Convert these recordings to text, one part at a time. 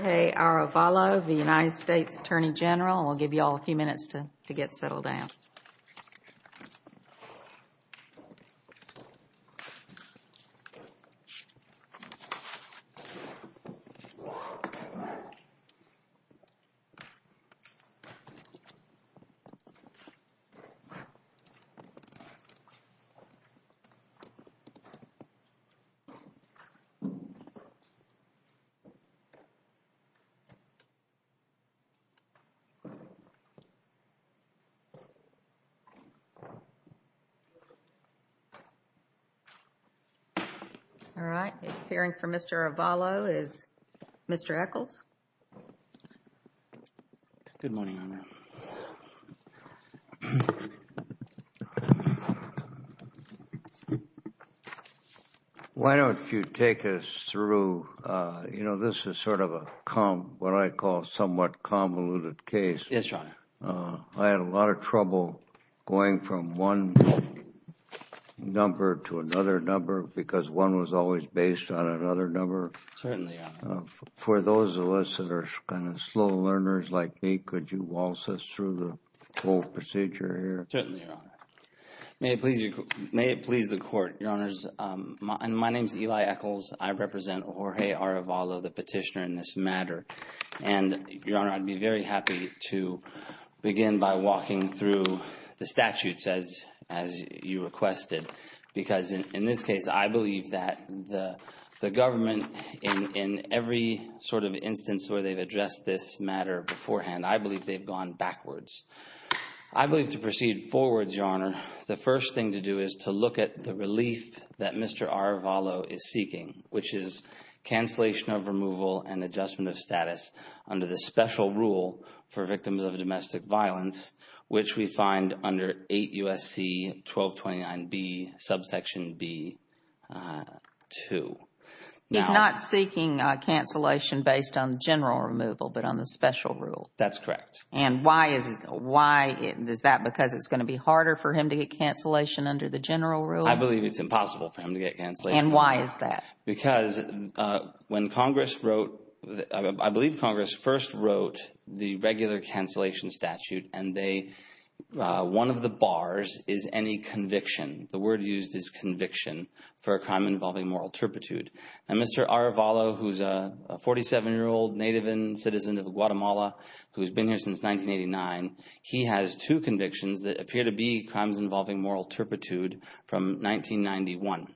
Okay, Arevalo, the United States Attorney General. I'll give you all a few minutes to get settled down. All right, appearing for Mr. Arevalo is Mr. Echols. Good morning, Your Honor. Why don't you take us through, you know, this is sort of a what I call somewhat convoluted case. Yes, Your Honor. I had a lot of trouble going from one number to another number because one was always based on another number. Certainly, Your Honor. For those of us that are kind of slow learners like me, could you waltz us through the whole procedure here? Certainly, Your Honor. May it please the Court, Your Honors. My name is Eli Echols. I represent Jorge Arevalo, the petitioner in this matter. And, Your Honor, I'd be very happy to begin by walking through the statutes as you requested because, in this case, I believe that the government in every sort of instance where they've addressed this matter beforehand, I believe they've gone backwards. I believe to proceed forwards, Your Honor, the first thing to do is to look at the relief that Mr. Arevalo is seeking, which is cancellation of removal and adjustment of status under the special rule for victims of domestic violence, which we find under 8 U.S.C. 1229B, subsection B2. He's not seeking cancellation based on general removal but on the special rule? That's correct. And why is that? Because it's going to be harder for him to get cancellation under the general rule? I believe it's impossible for him to get cancellation. And why is that? Because when Congress wrote, I believe Congress first wrote the regular cancellation statute, and one of the bars is any conviction. The word used is conviction for a crime involving moral turpitude. And Mr. Arevalo, who's a 47-year-old native and citizen of Guatemala who's been here since 1989, he has two convictions that appear to be crimes involving moral turpitude from 1991.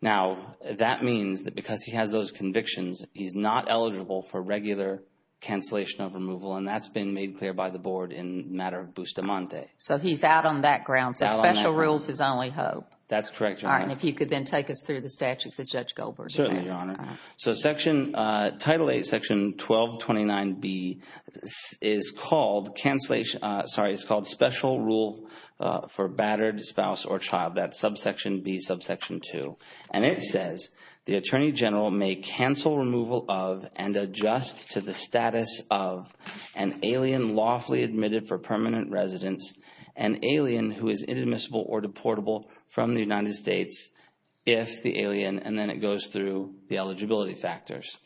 Now, that means that because he has those convictions, he's not eligible for regular cancellation of removal, and that's been made clear by the Board in the matter of Bustamante. So he's out on that ground. So special rule is his only hope. That's correct, Your Honor. And if you could then take us through the statutes that Judge Goldberg has. Certainly, Your Honor. So Title 8, Section 1229B is called special rule for battered spouse or child. That's subsection B, subsection 2. And it says the attorney general may cancel removal of and adjust to the status of an alien lawfully admitted for permanent residence, an alien who is inadmissible or deportable from the United States if the alien, and then it goes through the eligibility factors.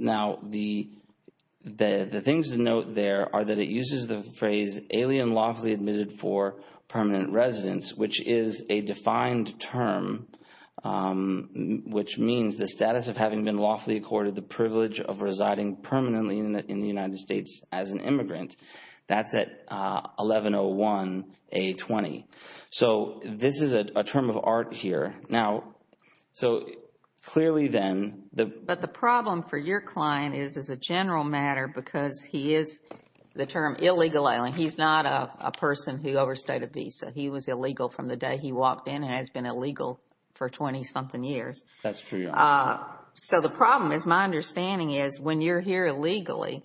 Now, the things to note there are that it uses the phrase alien lawfully admitted for permanent residence, which is a defined term, which means the status of having been lawfully accorded the privilege of residing permanently in the United States as an immigrant. That's at 1101A20. So this is a term of art here. Now, so clearly then the – But the problem for your client is as a general matter because he is the term illegal alien. He's not a person who overstayed a visa. He was illegal from the day he walked in and has been illegal for 20-something years. That's true, Your Honor. So the problem is my understanding is when you're here illegally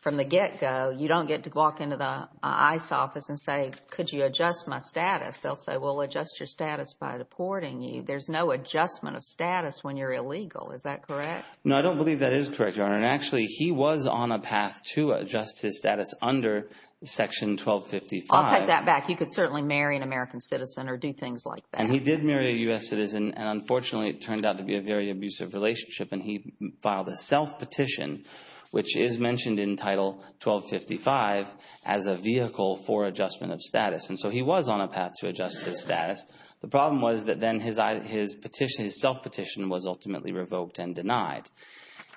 from the get-go, you don't get to walk into the ICE office and say, could you adjust my status. They'll say, well, adjust your status by deporting you. There's no adjustment of status when you're illegal. Is that correct? No, I don't believe that is correct, Your Honor. And actually he was on a path to adjust his status under Section 1255. I'll take that back. He could certainly marry an American citizen or do things like that. And he did marry a U.S. citizen, and unfortunately it turned out to be a very abusive relationship, and he filed a self-petition, which is mentioned in Title 1255, as a vehicle for adjustment of status. And so he was on a path to adjust his status. The problem was that then his self-petition was ultimately revoked and denied.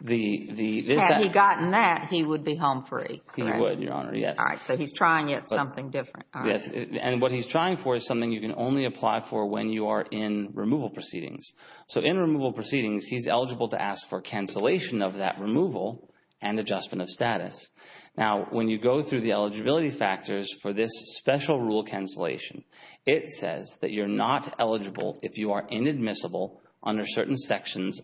Had he gotten that, he would be home free, correct? He would, Your Honor, yes. All right, so he's trying it something different. Yes, and what he's trying for is something you can only apply for when you are in removal proceedings. So in removal proceedings, he's eligible to ask for cancellation of that removal and adjustment of status. Now, when you go through the eligibility factors for this special rule cancellation, it says that you're not eligible if you are inadmissible under certain subsections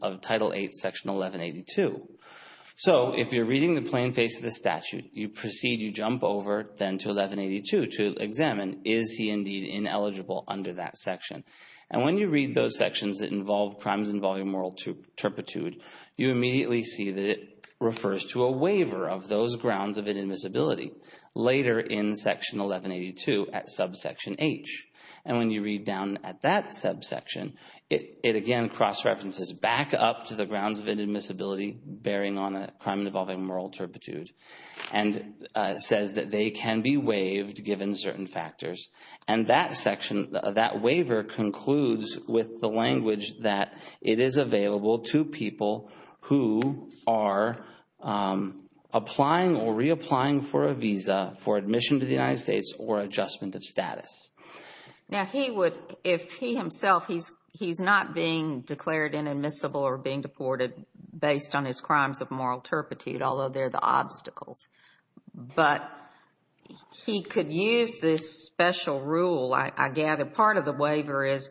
of Title VIII, Section 1182. So if you're reading the plain face of the statute, you proceed, you jump over then to 1182 to examine, is he indeed ineligible under that section? And when you read those sections that involve crimes involving moral turpitude, you immediately see that it refers to a waiver of those grounds of inadmissibility later in Section 1182 at subsection H. And when you read down at that subsection, it again cross-references back up to the grounds of inadmissibility bearing on a crime involving moral turpitude and says that they can be waived given certain factors. And that section, that waiver concludes with the language that it is available to people who are applying or reapplying for a visa for admission to the United States or adjustment of status. Now, he would, if he himself, he's not being declared inadmissible or being deported based on his crimes of moral turpitude, although they're the obstacles. But he could use this special rule, I gather. Part of the waiver is,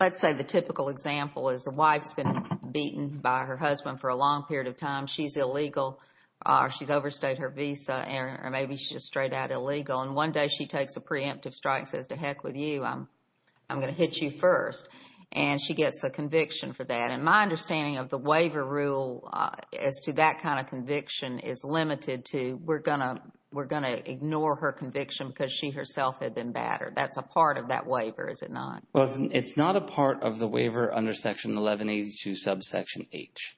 let's say the typical example is the wife's been beaten by her husband for a long period of time. She's illegal, or she's overstayed her visa, or maybe she's straight out illegal. And one day she takes a preemptive strike and says, to heck with you, I'm going to hit you first. And she gets a conviction for that. And my understanding of the waiver rule as to that kind of conviction is limited to we're going to ignore her conviction because she herself had been battered. That's a part of that waiver, is it not? Well, it's not a part of the waiver under Section 1182 subsection H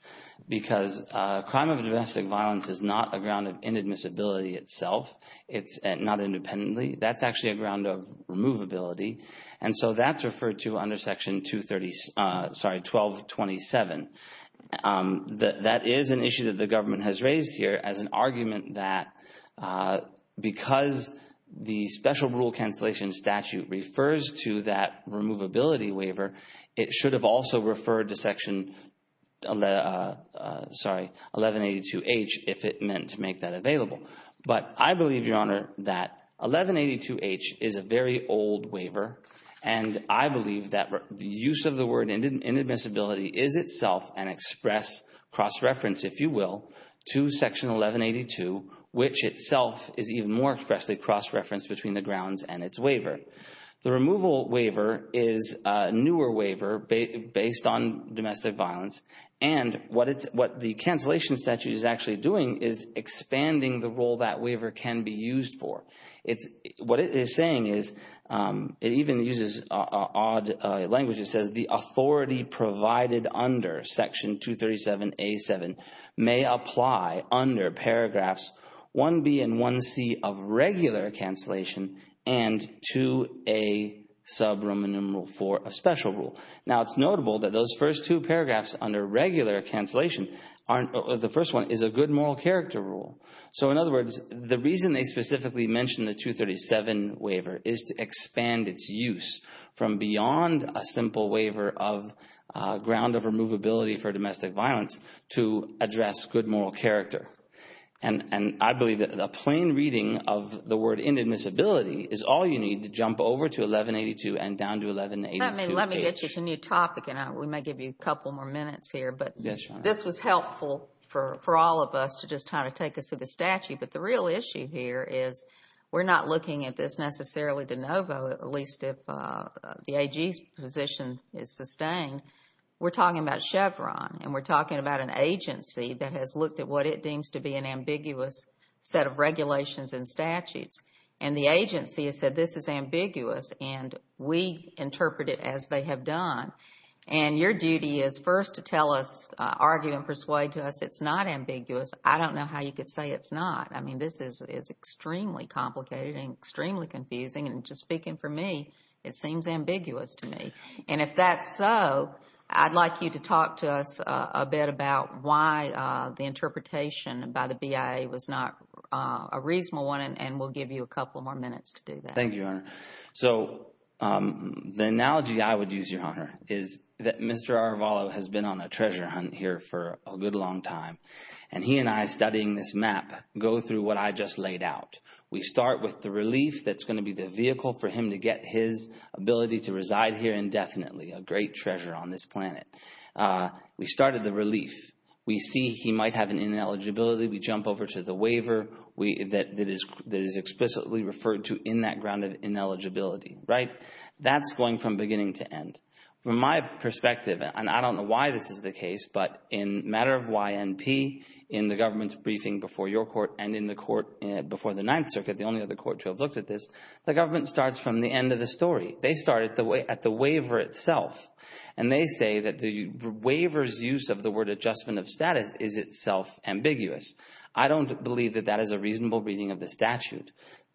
because crime of domestic violence is not a ground of inadmissibility itself. It's not independently. That's actually a ground of removability. And so that's referred to under Section 1227. That is an issue that the government has raised here as an argument that because the special rule cancellation statute refers to that removability waiver, it should have also referred to Section 1182H if it meant to make that available. But I believe, Your Honor, that 1182H is a very old waiver. And I believe that the use of the word inadmissibility is itself an express cross-reference, if you will, to Section 1182, which itself is even more expressly cross-referenced between the grounds and its waiver. The removal waiver is a newer waiver based on domestic violence. And what the cancellation statute is actually doing is expanding the role that waiver can be used for. What it is saying is it even uses odd language. It says the authority provided under Section 237A.7 may apply under paragraphs 1B and 1C of regular cancellation and 2A subroom enumerable for a special rule. Now, it's notable that those first two paragraphs under regular cancellation, the first one is a good moral character rule. So, in other words, the reason they specifically mention the 237 waiver is to expand its use from beyond a simple waiver of ground of removability for domestic violence to address good moral character. And I believe that a plain reading of the word inadmissibility is all you need to jump over to 1182 and down to 1182H. Well, let me get you to a new topic, and we may give you a couple more minutes here. But this was helpful for all of us to just kind of take us through the statute. But the real issue here is we're not looking at this necessarily de novo, at least if the AG's position is sustained. We're talking about Chevron, and we're talking about an agency that has looked at what it deems to be an ambiguous set of regulations and statutes. And the agency has said this is ambiguous, and we interpret it as they have done. And your duty is first to tell us, argue and persuade to us it's not ambiguous. I don't know how you could say it's not. I mean, this is extremely complicated and extremely confusing. And just speaking for me, it seems ambiguous to me. And if that's so, I'd like you to talk to us a bit about why the interpretation by the BIA was not a reasonable one, and we'll give you a couple more minutes to do that. Thank you, Your Honor. So the analogy I would use, Your Honor, is that Mr. Arvalo has been on a treasure hunt here for a good long time, and he and I, studying this map, go through what I just laid out. We start with the relief that's going to be the vehicle for him to get his ability to reside here indefinitely, a great treasure on this planet. We start at the relief. We see he might have an ineligibility. We jump over to the waiver that is explicitly referred to in that grounded ineligibility, right? That's going from beginning to end. From my perspective, and I don't know why this is the case, but in a matter of YNP, in the government's briefing before your court and in the court before the Ninth Circuit, the only other court to have looked at this, the government starts from the end of the story. They start at the waiver itself, and they say that the waiver's use of the word adjustment of status is itself ambiguous. I don't believe that that is a reasonable reading of the statute.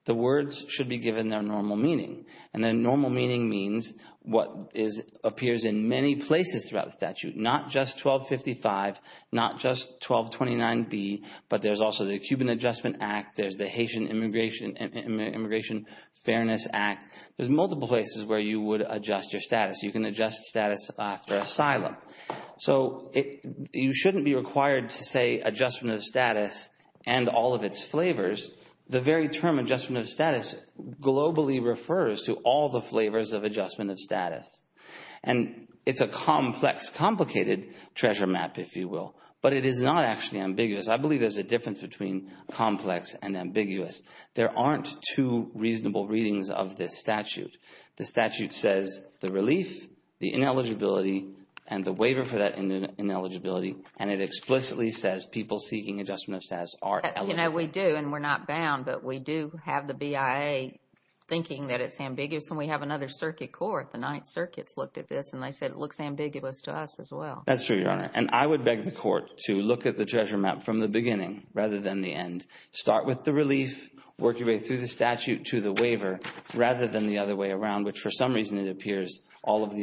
The words should be given their normal meaning, and their normal meaning means what appears in many places throughout the statute, not just 1255, not just 1229B, but there's also the Cuban Adjustment Act. There's the Haitian Immigration Fairness Act. There's multiple places where you would adjust your status. You can adjust status after asylum. So you shouldn't be required to say adjustment of status and all of its flavors. The very term adjustment of status globally refers to all the flavors of adjustment of status, and it's a complex, complicated treasure map, if you will, but it is not actually ambiguous. I believe there's a difference between complex and ambiguous. There aren't two reasonable readings of this statute. The statute says the relief, the ineligibility, and the waiver for that ineligibility, and it explicitly says people seeking adjustment of status are eligible. You know, we do, and we're not bound, but we do have the BIA thinking that it's ambiguous, and we have another circuit court, the Ninth Circuit's looked at this, and they said it looks ambiguous to us as well. That's true, Your Honor, and I would beg the court to look at the treasure map from the beginning rather than the end. Start with the relief, work your way through the statute to the waiver rather than the other way around, which for some reason it appears all of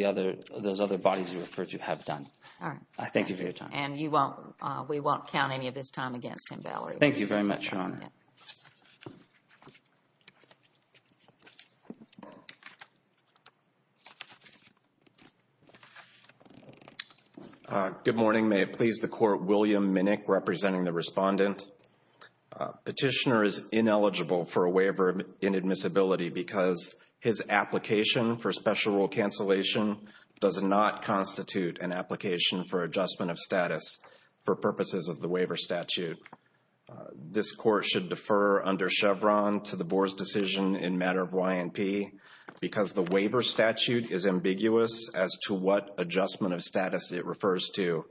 those other bodies you referred to have done. All right. Thank you for your time. And we won't count any of this time against him, Valerie. Thank you very much, Your Honor. All right. Good morning. May it please the Court, William Minnick representing the respondent. Petitioner is ineligible for a waiver in admissibility because his application for special rule cancellation does not constitute an application for adjustment of status for purposes of the waiver statute. This Court should defer under Chevron to the Board's decision in matter of YMP because the waiver statute is ambiguous as to what adjustment of status it refers to,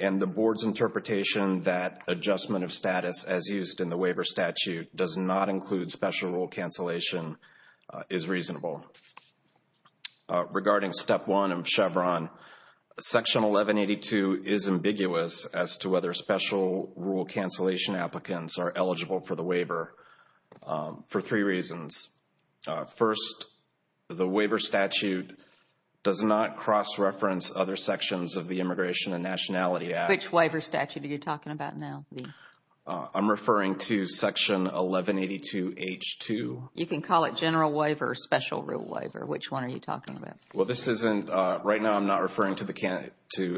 and the Board's interpretation that adjustment of status as used in the waiver statute does not include special rule cancellation is reasonable. Regarding Step 1 of Chevron, Section 1182 is ambiguous as to whether special rule cancellation applicants are eligible for the waiver for three reasons. First, the waiver statute does not cross-reference other sections of the Immigration and Nationality Act. Which waiver statute are you talking about now? I'm referring to Section 1182H2. You can call it general waiver or special rule waiver. Which one are you talking about? Right now, I'm not referring to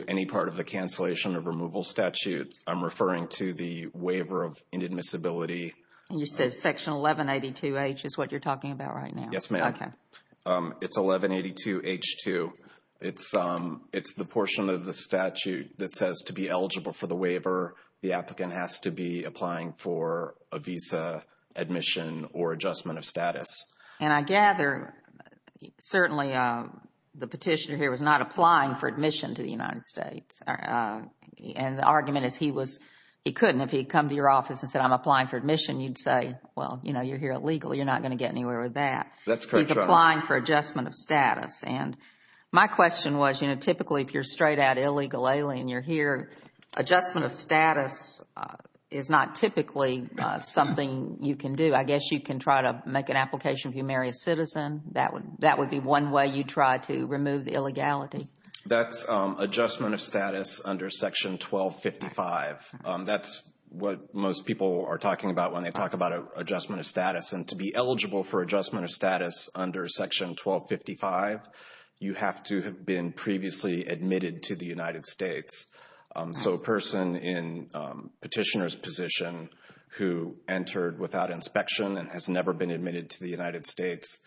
any part of the cancellation or removal statute. I'm referring to the waiver of inadmissibility. You said Section 1182H is what you're talking about right now? Yes, ma'am. Okay. It's 1182H2. It's the portion of the statute that says to be eligible for the waiver, the applicant has to be applying for a visa, admission, or adjustment of status. And I gather, certainly, the petitioner here was not applying for admission to the United States. And the argument is he couldn't. If he had come to your office and said, I'm applying for admission, you'd say, well, you know, you're here illegally. You're not going to get anywhere with that. He's applying for adjustment of status. And my question was, you know, typically if you're straight out illegally and you're here, adjustment of status is not typically something you can do. I guess you can try to make an application if you marry a citizen. That would be one way you try to remove the illegality. That's adjustment of status under Section 1255. That's what most people are talking about when they talk about adjustment of status. And to be eligible for adjustment of status under Section 1255, you have to have been previously admitted to the United States. So a person in petitioner's position who entered without inspection and has never been admitted to the United States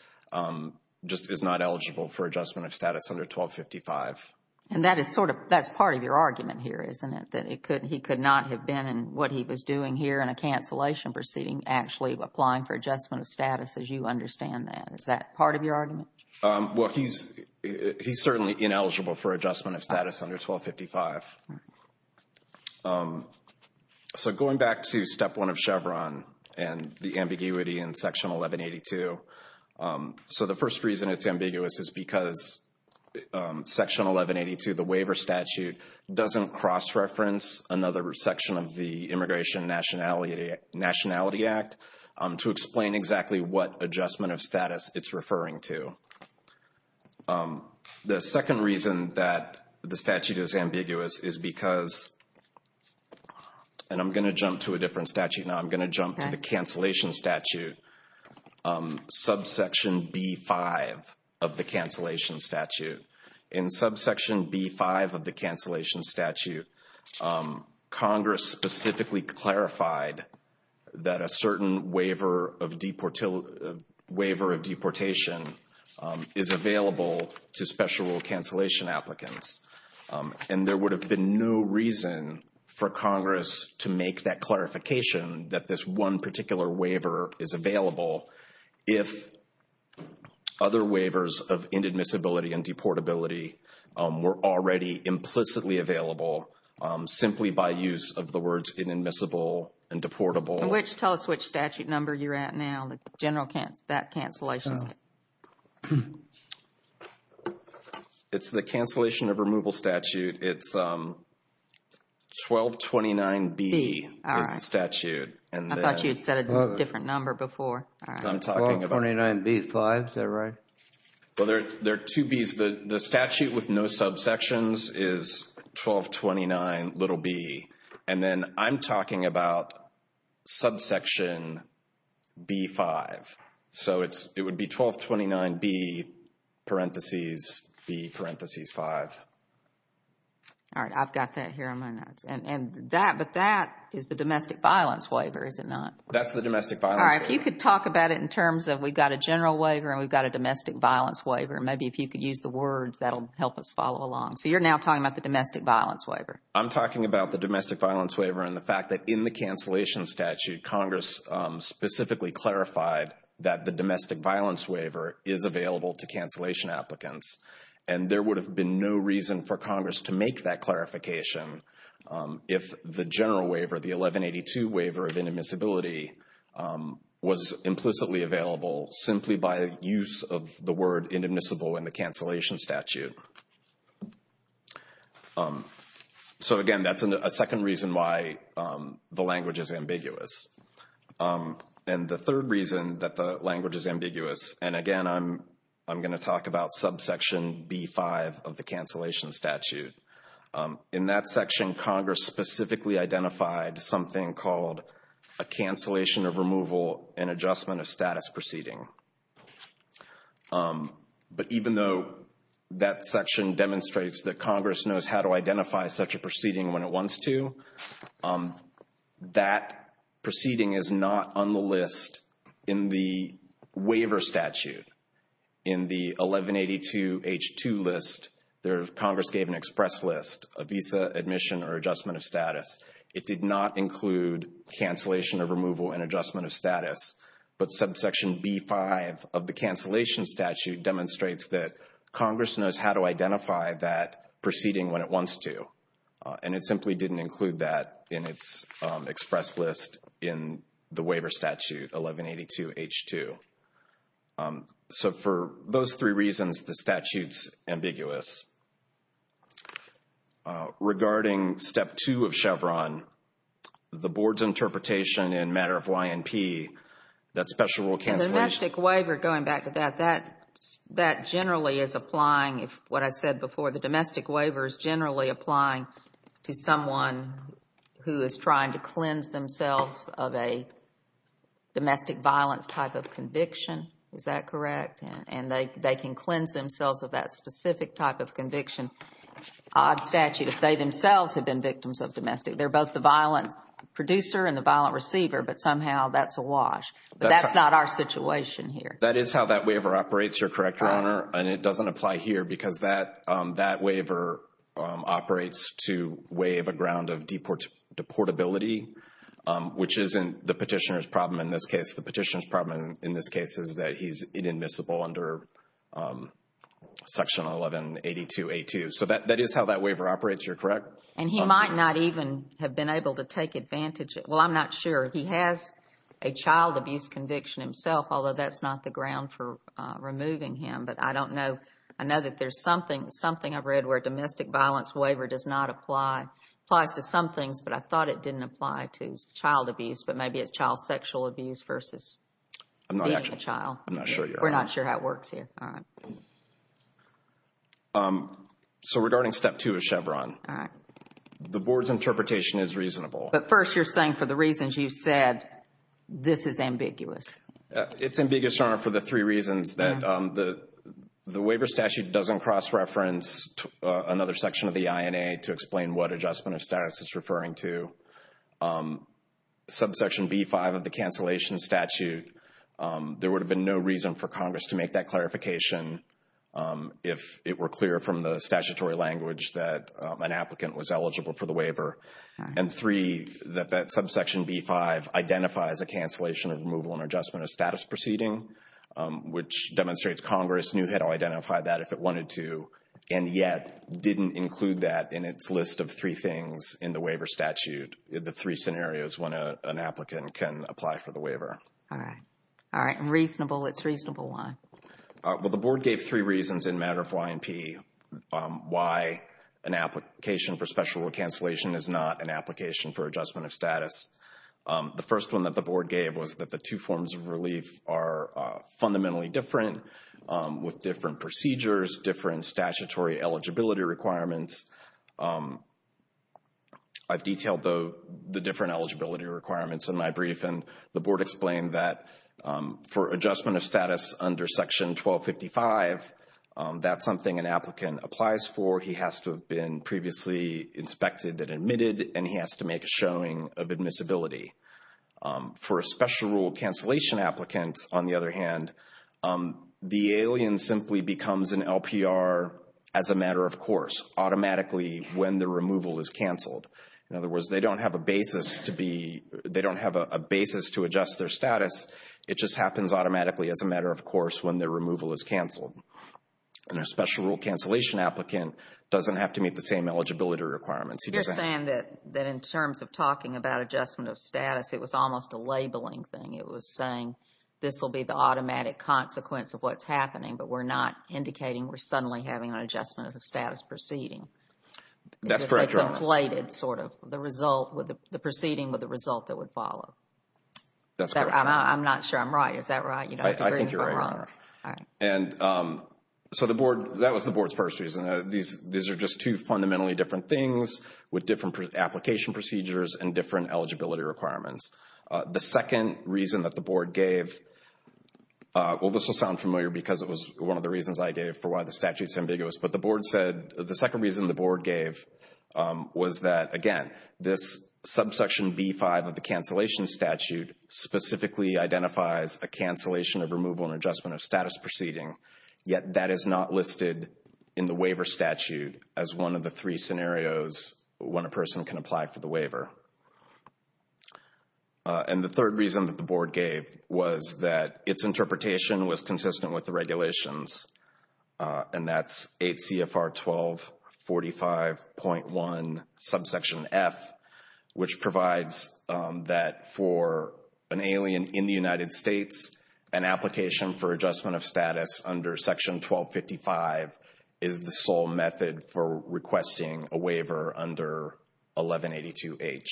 just is not eligible for adjustment of status under 1255. And that is sort of, that's part of your argument here, isn't it, that he could not have been in what he was doing here in a cancellation proceeding, actually applying for adjustment of status as you understand that? Is that part of your argument? Well, he's certainly ineligible for adjustment of status under 1255. So going back to Step 1 of Chevron and the ambiguity in Section 1182. So the first reason it's ambiguous is because Section 1182, the waiver statute, doesn't cross-reference another section of the Immigration Nationality Act to explain exactly what adjustment of status it's referring to. The second reason that the statute is ambiguous is because, and I'm going to jump to a different statute now. I'm going to jump to the cancellation statute, subsection B-5 of the cancellation statute. In subsection B-5 of the cancellation statute, Congress specifically clarified that a certain waiver of deportation is available to special rule cancellation applicants. And there would have been no reason for Congress to make that clarification that this one particular waiver is available if other waivers of inadmissibility and deportability were already implicitly available simply by use of the words inadmissible and deportable. Tell us which statute number you're at now, that general cancellation. It's the cancellation of removal statute. It's 1229B is the statute. I thought you had said a different number before. 1229B-5, is that right? Well, there are two Bs. The statute with no subsections is 1229b. And then I'm talking about subsection B-5. So it would be 1229B-5. All right, I've got that here on my notes. But that is the domestic violence waiver, is it not? That's the domestic violence waiver. All right, if you could talk about it in terms of we've got a general waiver and we've got a domestic violence waiver. Maybe if you could use the words, that will help us follow along. So you're now talking about the domestic violence waiver. I'm talking about the domestic violence waiver and the fact that in the cancellation statute, Congress specifically clarified that the domestic violence waiver is available to cancellation applicants. And there would have been no reason for Congress to make that clarification if the general waiver, the 1182 waiver of inadmissibility, was implicitly available simply by use of the word inadmissible in the cancellation statute. So, again, that's a second reason why the language is ambiguous. And the third reason that the language is ambiguous, and, again, I'm going to talk about subsection B-5 of the cancellation statute. In that section, Congress specifically identified something called a cancellation of removal and adjustment of status proceeding. But even though that section demonstrates that Congress knows how to identify such a proceeding when it wants to, that proceeding is not on the list in the waiver statute. In the 1182-H-2 list, Congress gave an express list, a visa admission or adjustment of status. But subsection B-5 of the cancellation statute demonstrates that Congress knows how to identify that proceeding when it wants to, and it simply didn't include that in its express list in the waiver statute, 1182-H-2. So for those three reasons, the statute's ambiguous. Regarding step two of Chevron, the board's interpretation in matter of YNP, that special rule cancellation. And the domestic waiver, going back to that, that generally is applying, what I said before, the domestic waiver is generally applying to someone who is trying to cleanse themselves of a domestic violence type of conviction. Is that correct? And they can cleanse themselves of that specific type of conviction. Odd statute if they themselves have been victims of domestic. They're both the violent producer and the violent receiver, but somehow that's a wash. But that's not our situation here. That is how that waiver operates, you're correct, Your Honor, and it doesn't apply here because that waiver operates to waive a ground of deportability, which isn't the petitioner's problem in this case. The petitioner's problem in this case is that he's inadmissible under Section 1182-H-2. So that is how that waiver operates, you're correct. And he might not even have been able to take advantage of it. Well, I'm not sure. He has a child abuse conviction himself, although that's not the ground for removing him. But I don't know. I know that there's something I've read where domestic violence waiver does not apply. It applies to some things, but I thought it didn't apply to child abuse, but maybe it's child sexual abuse versus being a child. I'm not sure. We're not sure how it works here. So regarding Step 2 of Chevron, the Board's interpretation is reasonable. But first you're saying for the reasons you said, this is ambiguous. It's ambiguous, Your Honor, for the three reasons that the waiver statute doesn't cross-reference another section of the INA to explain what adjustment of status it's referring to. Subsection B-5 of the cancellation statute, there would have been no reason for Congress to make that clarification if it were clear from the statutory language that an applicant was eligible for the waiver. And three, that that subsection B-5 identifies a cancellation of removal and adjustment of status proceeding, which demonstrates Congress knew it identified that if it wanted to, and yet didn't include that in its list of three things in the waiver statute, the three scenarios when an applicant can apply for the waiver. All right. All right. Reasonable. It's reasonable. Why? Well, the Board gave three reasons in matter of YMP. Why an application for special cancellation is not an application for adjustment of status. The first one that the Board gave was that the two forms of relief are statutory eligibility requirements. I've detailed the different eligibility requirements in my brief, and the Board explained that for adjustment of status under Section 1255, that's something an applicant applies for. He has to have been previously inspected and admitted, and he has to make a showing of admissibility. For a special rule cancellation applicant, on the other hand, the alien simply becomes an LPR as a matter of course, automatically when the removal is canceled. In other words, they don't have a basis to adjust their status. It just happens automatically as a matter of course when the removal is canceled. And a special rule cancellation applicant doesn't have to meet the same eligibility requirements. You're saying that in terms of talking about adjustment of status, it was almost a labeling thing. It was saying this will be the automatic consequence of what's happening, but we're not indicating we're suddenly having an adjustment of status proceeding. That's correct, Your Honor. It's just a conflated sort of the result, the proceeding with the result that would follow. That's correct. I'm not sure I'm right. Is that right? I think you're right, Your Honor. All right. And so the Board, that was the Board's first reason. These are just two fundamentally different things with different application procedures and different eligibility requirements. The second reason that the Board gave, well, this will sound familiar because it was one of the reasons I gave for why the statute's ambiguous, but the Board said, the second reason the Board gave was that, again, this subsection B-5 of the cancellation statute specifically identifies a cancellation of removal and adjustment of status proceeding, yet that is not listed in the waiver statute as one of the three scenarios when a person can apply for the waiver. And the third reason that the Board gave was that its interpretation was consistent with the regulations, and that's 8 CFR 1245.1 subsection F, which provides that for an alien in the United States, an application for adjustment of status under section 1255 is the sole method for requesting a waiver under 1182H.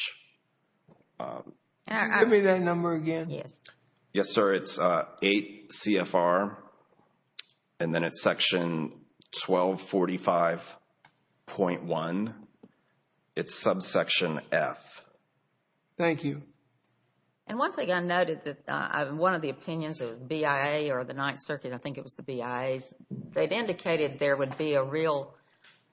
Just give me that number again. Yes, sir. It's 8 CFR, and then it's section 1245.1. It's subsection F. Thank you. And one thing I noted that one of the opinions of BIA or the Ninth Circuit, I think it was the BIA's, they've indicated there would be a real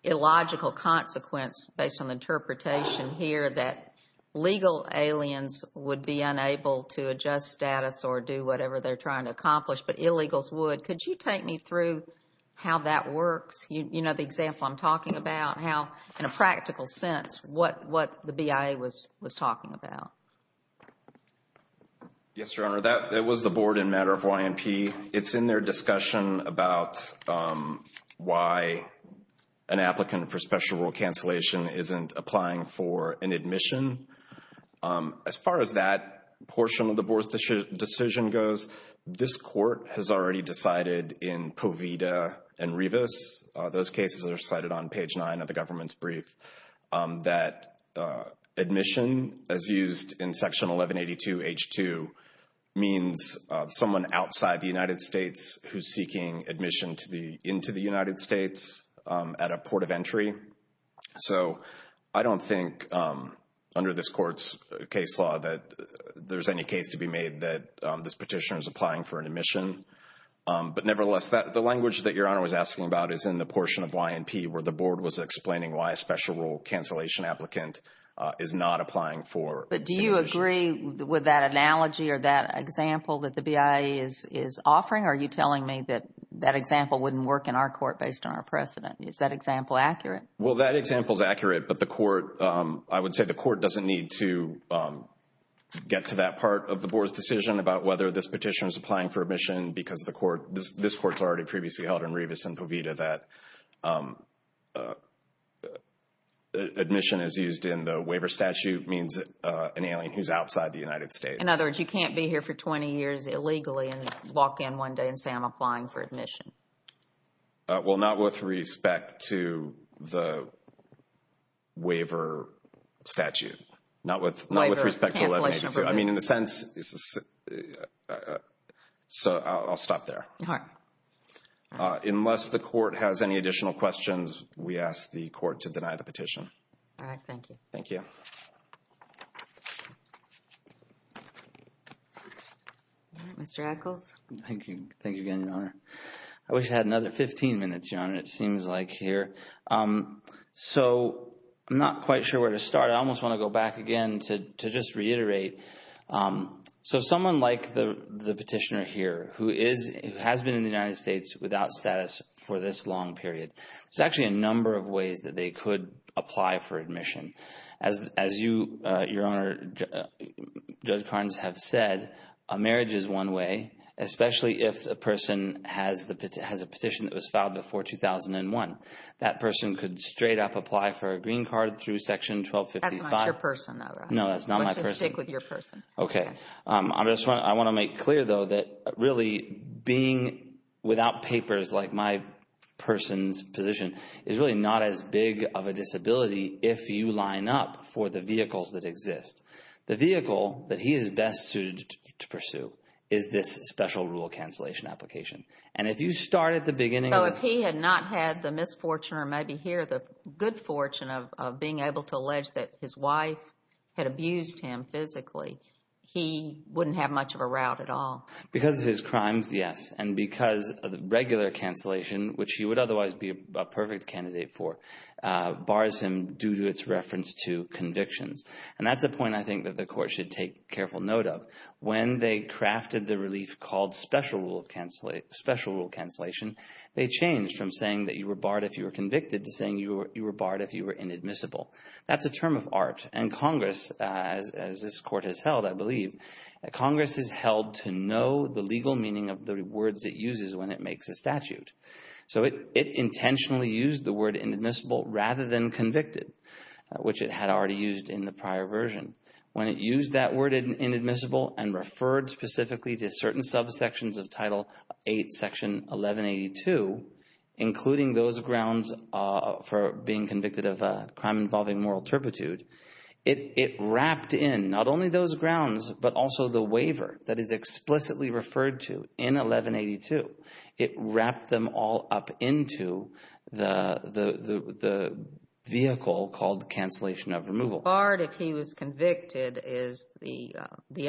illogical consequence based on the interpretation here that legal aliens would be unable to adjust status or do whatever they're trying to accomplish, but illegals would. Could you take me through how that works? You know the example I'm talking about, how, in a practical sense, what the BIA was talking about. Yes, Your Honor. That was the Board in matter of YMP. It's in their discussion about why an applicant for special rule cancellation isn't applying for an admission. As far as that portion of the Board's decision goes, this court has already decided in Povida and Rivas, those cases are cited on page 9 of the government's brief, that admission, as used in Section 1182H2, means someone outside the United States who's seeking admission into the United States at a port of entry. So I don't think under this court's case law that there's any case to be made that this petitioner is applying for an admission. But nevertheless, the language that Your Honor was asking about is in the portion of YMP where the Board was explaining why a special rule cancellation applicant is not applying for an admission. But do you agree with that analogy or that example that the BIA is offering? Or are you telling me that that example wouldn't work in our court based on our precedent? Is that example accurate? Well, that example is accurate, but the court, I would say the court doesn't need to get to that part of the Board's decision about whether this petitioner is applying for admission because the court, this court's already previously held in Revis and Povita that admission is used in the waiver statute means an alien who's outside the United States. In other words, you can't be here for 20 years illegally and walk in one day and say I'm applying for admission. Well, not with respect to the waiver statute. Not with respect to 1182. I mean, in a sense. So I'll stop there. All right. Unless the court has any additional questions, we ask the court to deny the petition. All right. Thank you. Thank you. Mr. Echols. Thank you. Thank you again, Your Honor. I wish I had another 15 minutes, Your Honor. It seems like here. So I'm not quite sure where to start. I almost want to go back again to just reiterate. So someone like the petitioner here who has been in the United States without status for this long period, there's actually a number of ways that they could apply for admission. As you, Your Honor, Judge Carnes have said, a marriage is one way, especially if the person has a petition that was filed before 2001. That person could straight up apply for a green card through Section 1255. That's not your person, though, right? No, that's not my person. Let's just stick with your person. Okay. I just want to make clear, though, that really being without papers like my person's position is really not as big of a disability if you line up for the vehicles that exist. The vehicle that he is best suited to pursue is this special rule cancellation application. And if you start at the beginning of the. If he had not had the misfortune or maybe here the good fortune of being able to allege that his wife had abused him physically, he wouldn't have much of a route at all. Because of his crimes, yes. And because of the regular cancellation, which he would otherwise be a perfect candidate for, bars him due to its reference to convictions. And that's a point I think that the court should take careful note of. When they crafted the relief called special rule cancellation, they changed from saying that you were barred if you were convicted to saying you were barred if you were inadmissible. That's a term of art. And Congress, as this court has held, I believe, Congress has held to know the legal meaning of the words it uses when it makes a statute. So it intentionally used the word inadmissible rather than convicted, which it had already used in the prior version. When it used that word inadmissible and referred specifically to certain subsections of Title VIII, Section 1182, including those grounds for being convicted of a crime involving moral turpitude, it wrapped in not only those grounds, but also the waiver that is explicitly referred to in 1182. It wrapped them all up into the vehicle called cancellation of removal. So barred if he was convicted is the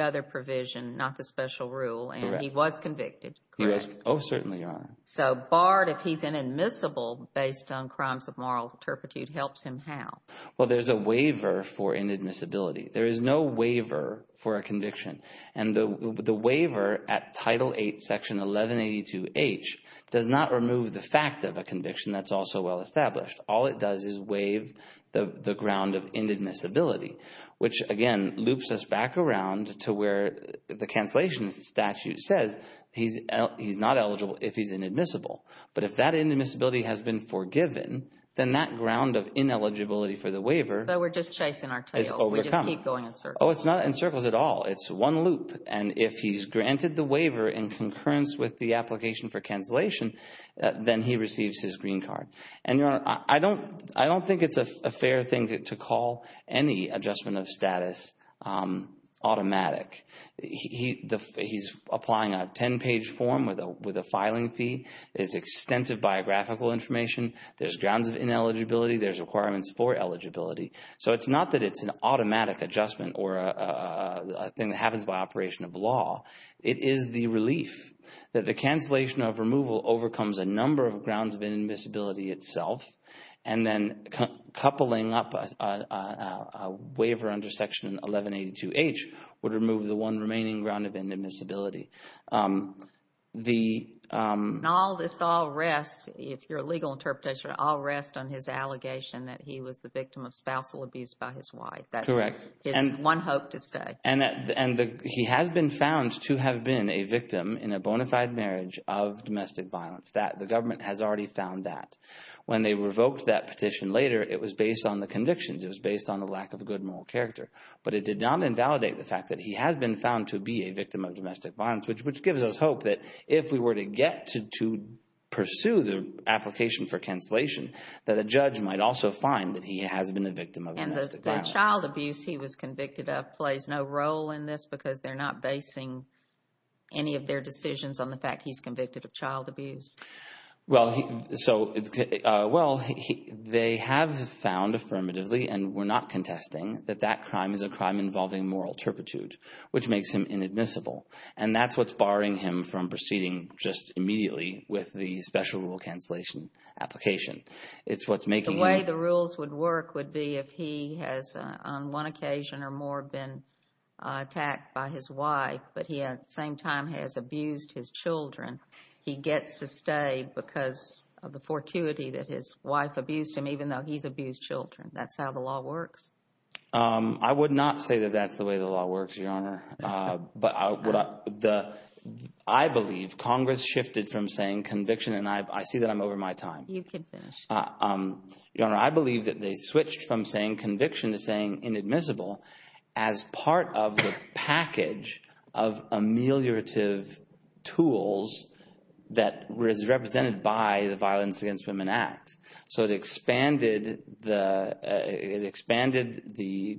other provision, not the special rule, and he was convicted, correct? Oh, certainly, Your Honor. So barred if he's inadmissible based on crimes of moral turpitude helps him how? Well, there's a waiver for inadmissibility. There is no waiver for a conviction. And the waiver at Title VIII, Section 1182H, does not remove the fact of a conviction that's also well established. All it does is waive the ground of inadmissibility, which again loops us back around to where the cancellation statute says he's not eligible if he's inadmissible. But if that inadmissibility has been forgiven, then that ground of ineligibility for the waiver is overcome. So we're just chasing our tail. We just keep going in circles. Oh, it's not in circles at all. It's one loop. And if he's granted the waiver in concurrence with the application for cancellation, then he receives his green card. And, Your Honor, I don't think it's a fair thing to call any adjustment of status automatic. He's applying a 10-page form with a filing fee. There's extensive biographical information. There's grounds of ineligibility. There's requirements for eligibility. So it's not that it's an automatic adjustment or a thing that happens by operation of law. It is the relief that the cancellation of removal overcomes a number of grounds of inadmissibility itself. And then coupling up a waiver under Section 1182H would remove the one remaining ground of inadmissibility. And all this all rests, if your legal interpretation, all rests on his allegation that he was the victim of spousal abuse by his wife. Correct. That's his one hope to stay. And he has been found to have been a victim in a bona fide marriage of When they revoked that petition later, it was based on the convictions. It was based on the lack of a good moral character. But it did not invalidate the fact that he has been found to be a victim of domestic violence, which gives us hope that if we were to get to pursue the application for cancellation, that a judge might also find that he has been a victim of domestic violence. And the child abuse he was convicted of plays no role in this because they're not basing any of their decisions on the fact he's convicted of child abuse. Well, they have found affirmatively, and we're not contesting, that that crime is a crime involving moral turpitude, which makes him inadmissible. And that's what's barring him from proceeding just immediately with the special rule cancellation application. The way the rules would work would be if he has on one occasion or more been attacked by his wife, but he at the same time has abused his children, he gets to stay because of the fortuity that his wife abused him, even though he's abused children. That's how the law works. I would not say that that's the way the law works, Your Honor. But I believe Congress shifted from saying conviction, and I see that I'm over my time. You can finish. Your Honor, I believe that they switched from saying conviction to saying inadmissible as part of the package of ameliorative tools that is represented by the Violence Against Women Act. So it expanded the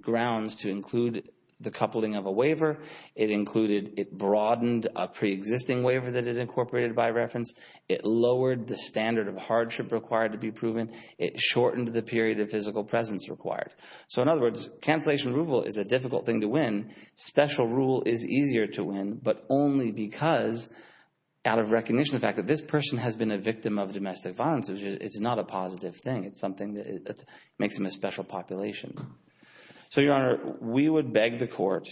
grounds to include the coupling of a waiver. It broadened a preexisting waiver that is incorporated by reference. It lowered the standard of hardship required to be proven. It shortened the period of physical presence required. So, in other words, cancellation approval is a difficult thing to win. Special rule is easier to win, but only because out of recognition of the fact that this person has been a victim of domestic violence, it's not a positive thing. It's something that makes them a special population. So, Your Honor, we would beg the court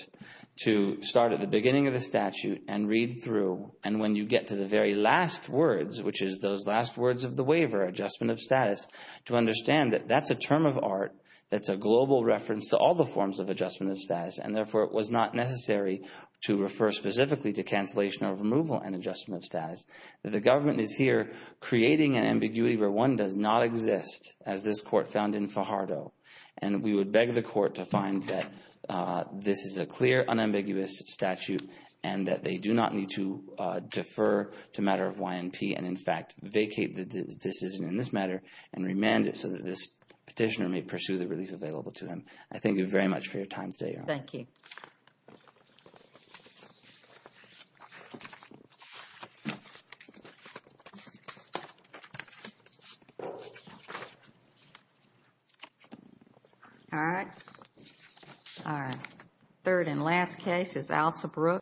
to start at the beginning of the statute and read through, and when you get to the very last words, which is those last words of the waiver, adjustment of status, to understand that that's a term of art, that's a global reference to all the forms of adjustment of status, and therefore it was not necessary to refer specifically to cancellation or removal and adjustment of status. The government is here creating an ambiguity where one does not exist, as this court found in Fajardo. And we would beg the court to find that this is a clear, unambiguous statute and that they do not need to defer to a matter of YNP and, in fact, vacate the decision in this matter and remand it so that this petitioner may pursue the relief available to him. I thank you very much for your time today, Your Honor. Thank you. All right. All right. Third and last case is Alsabrook.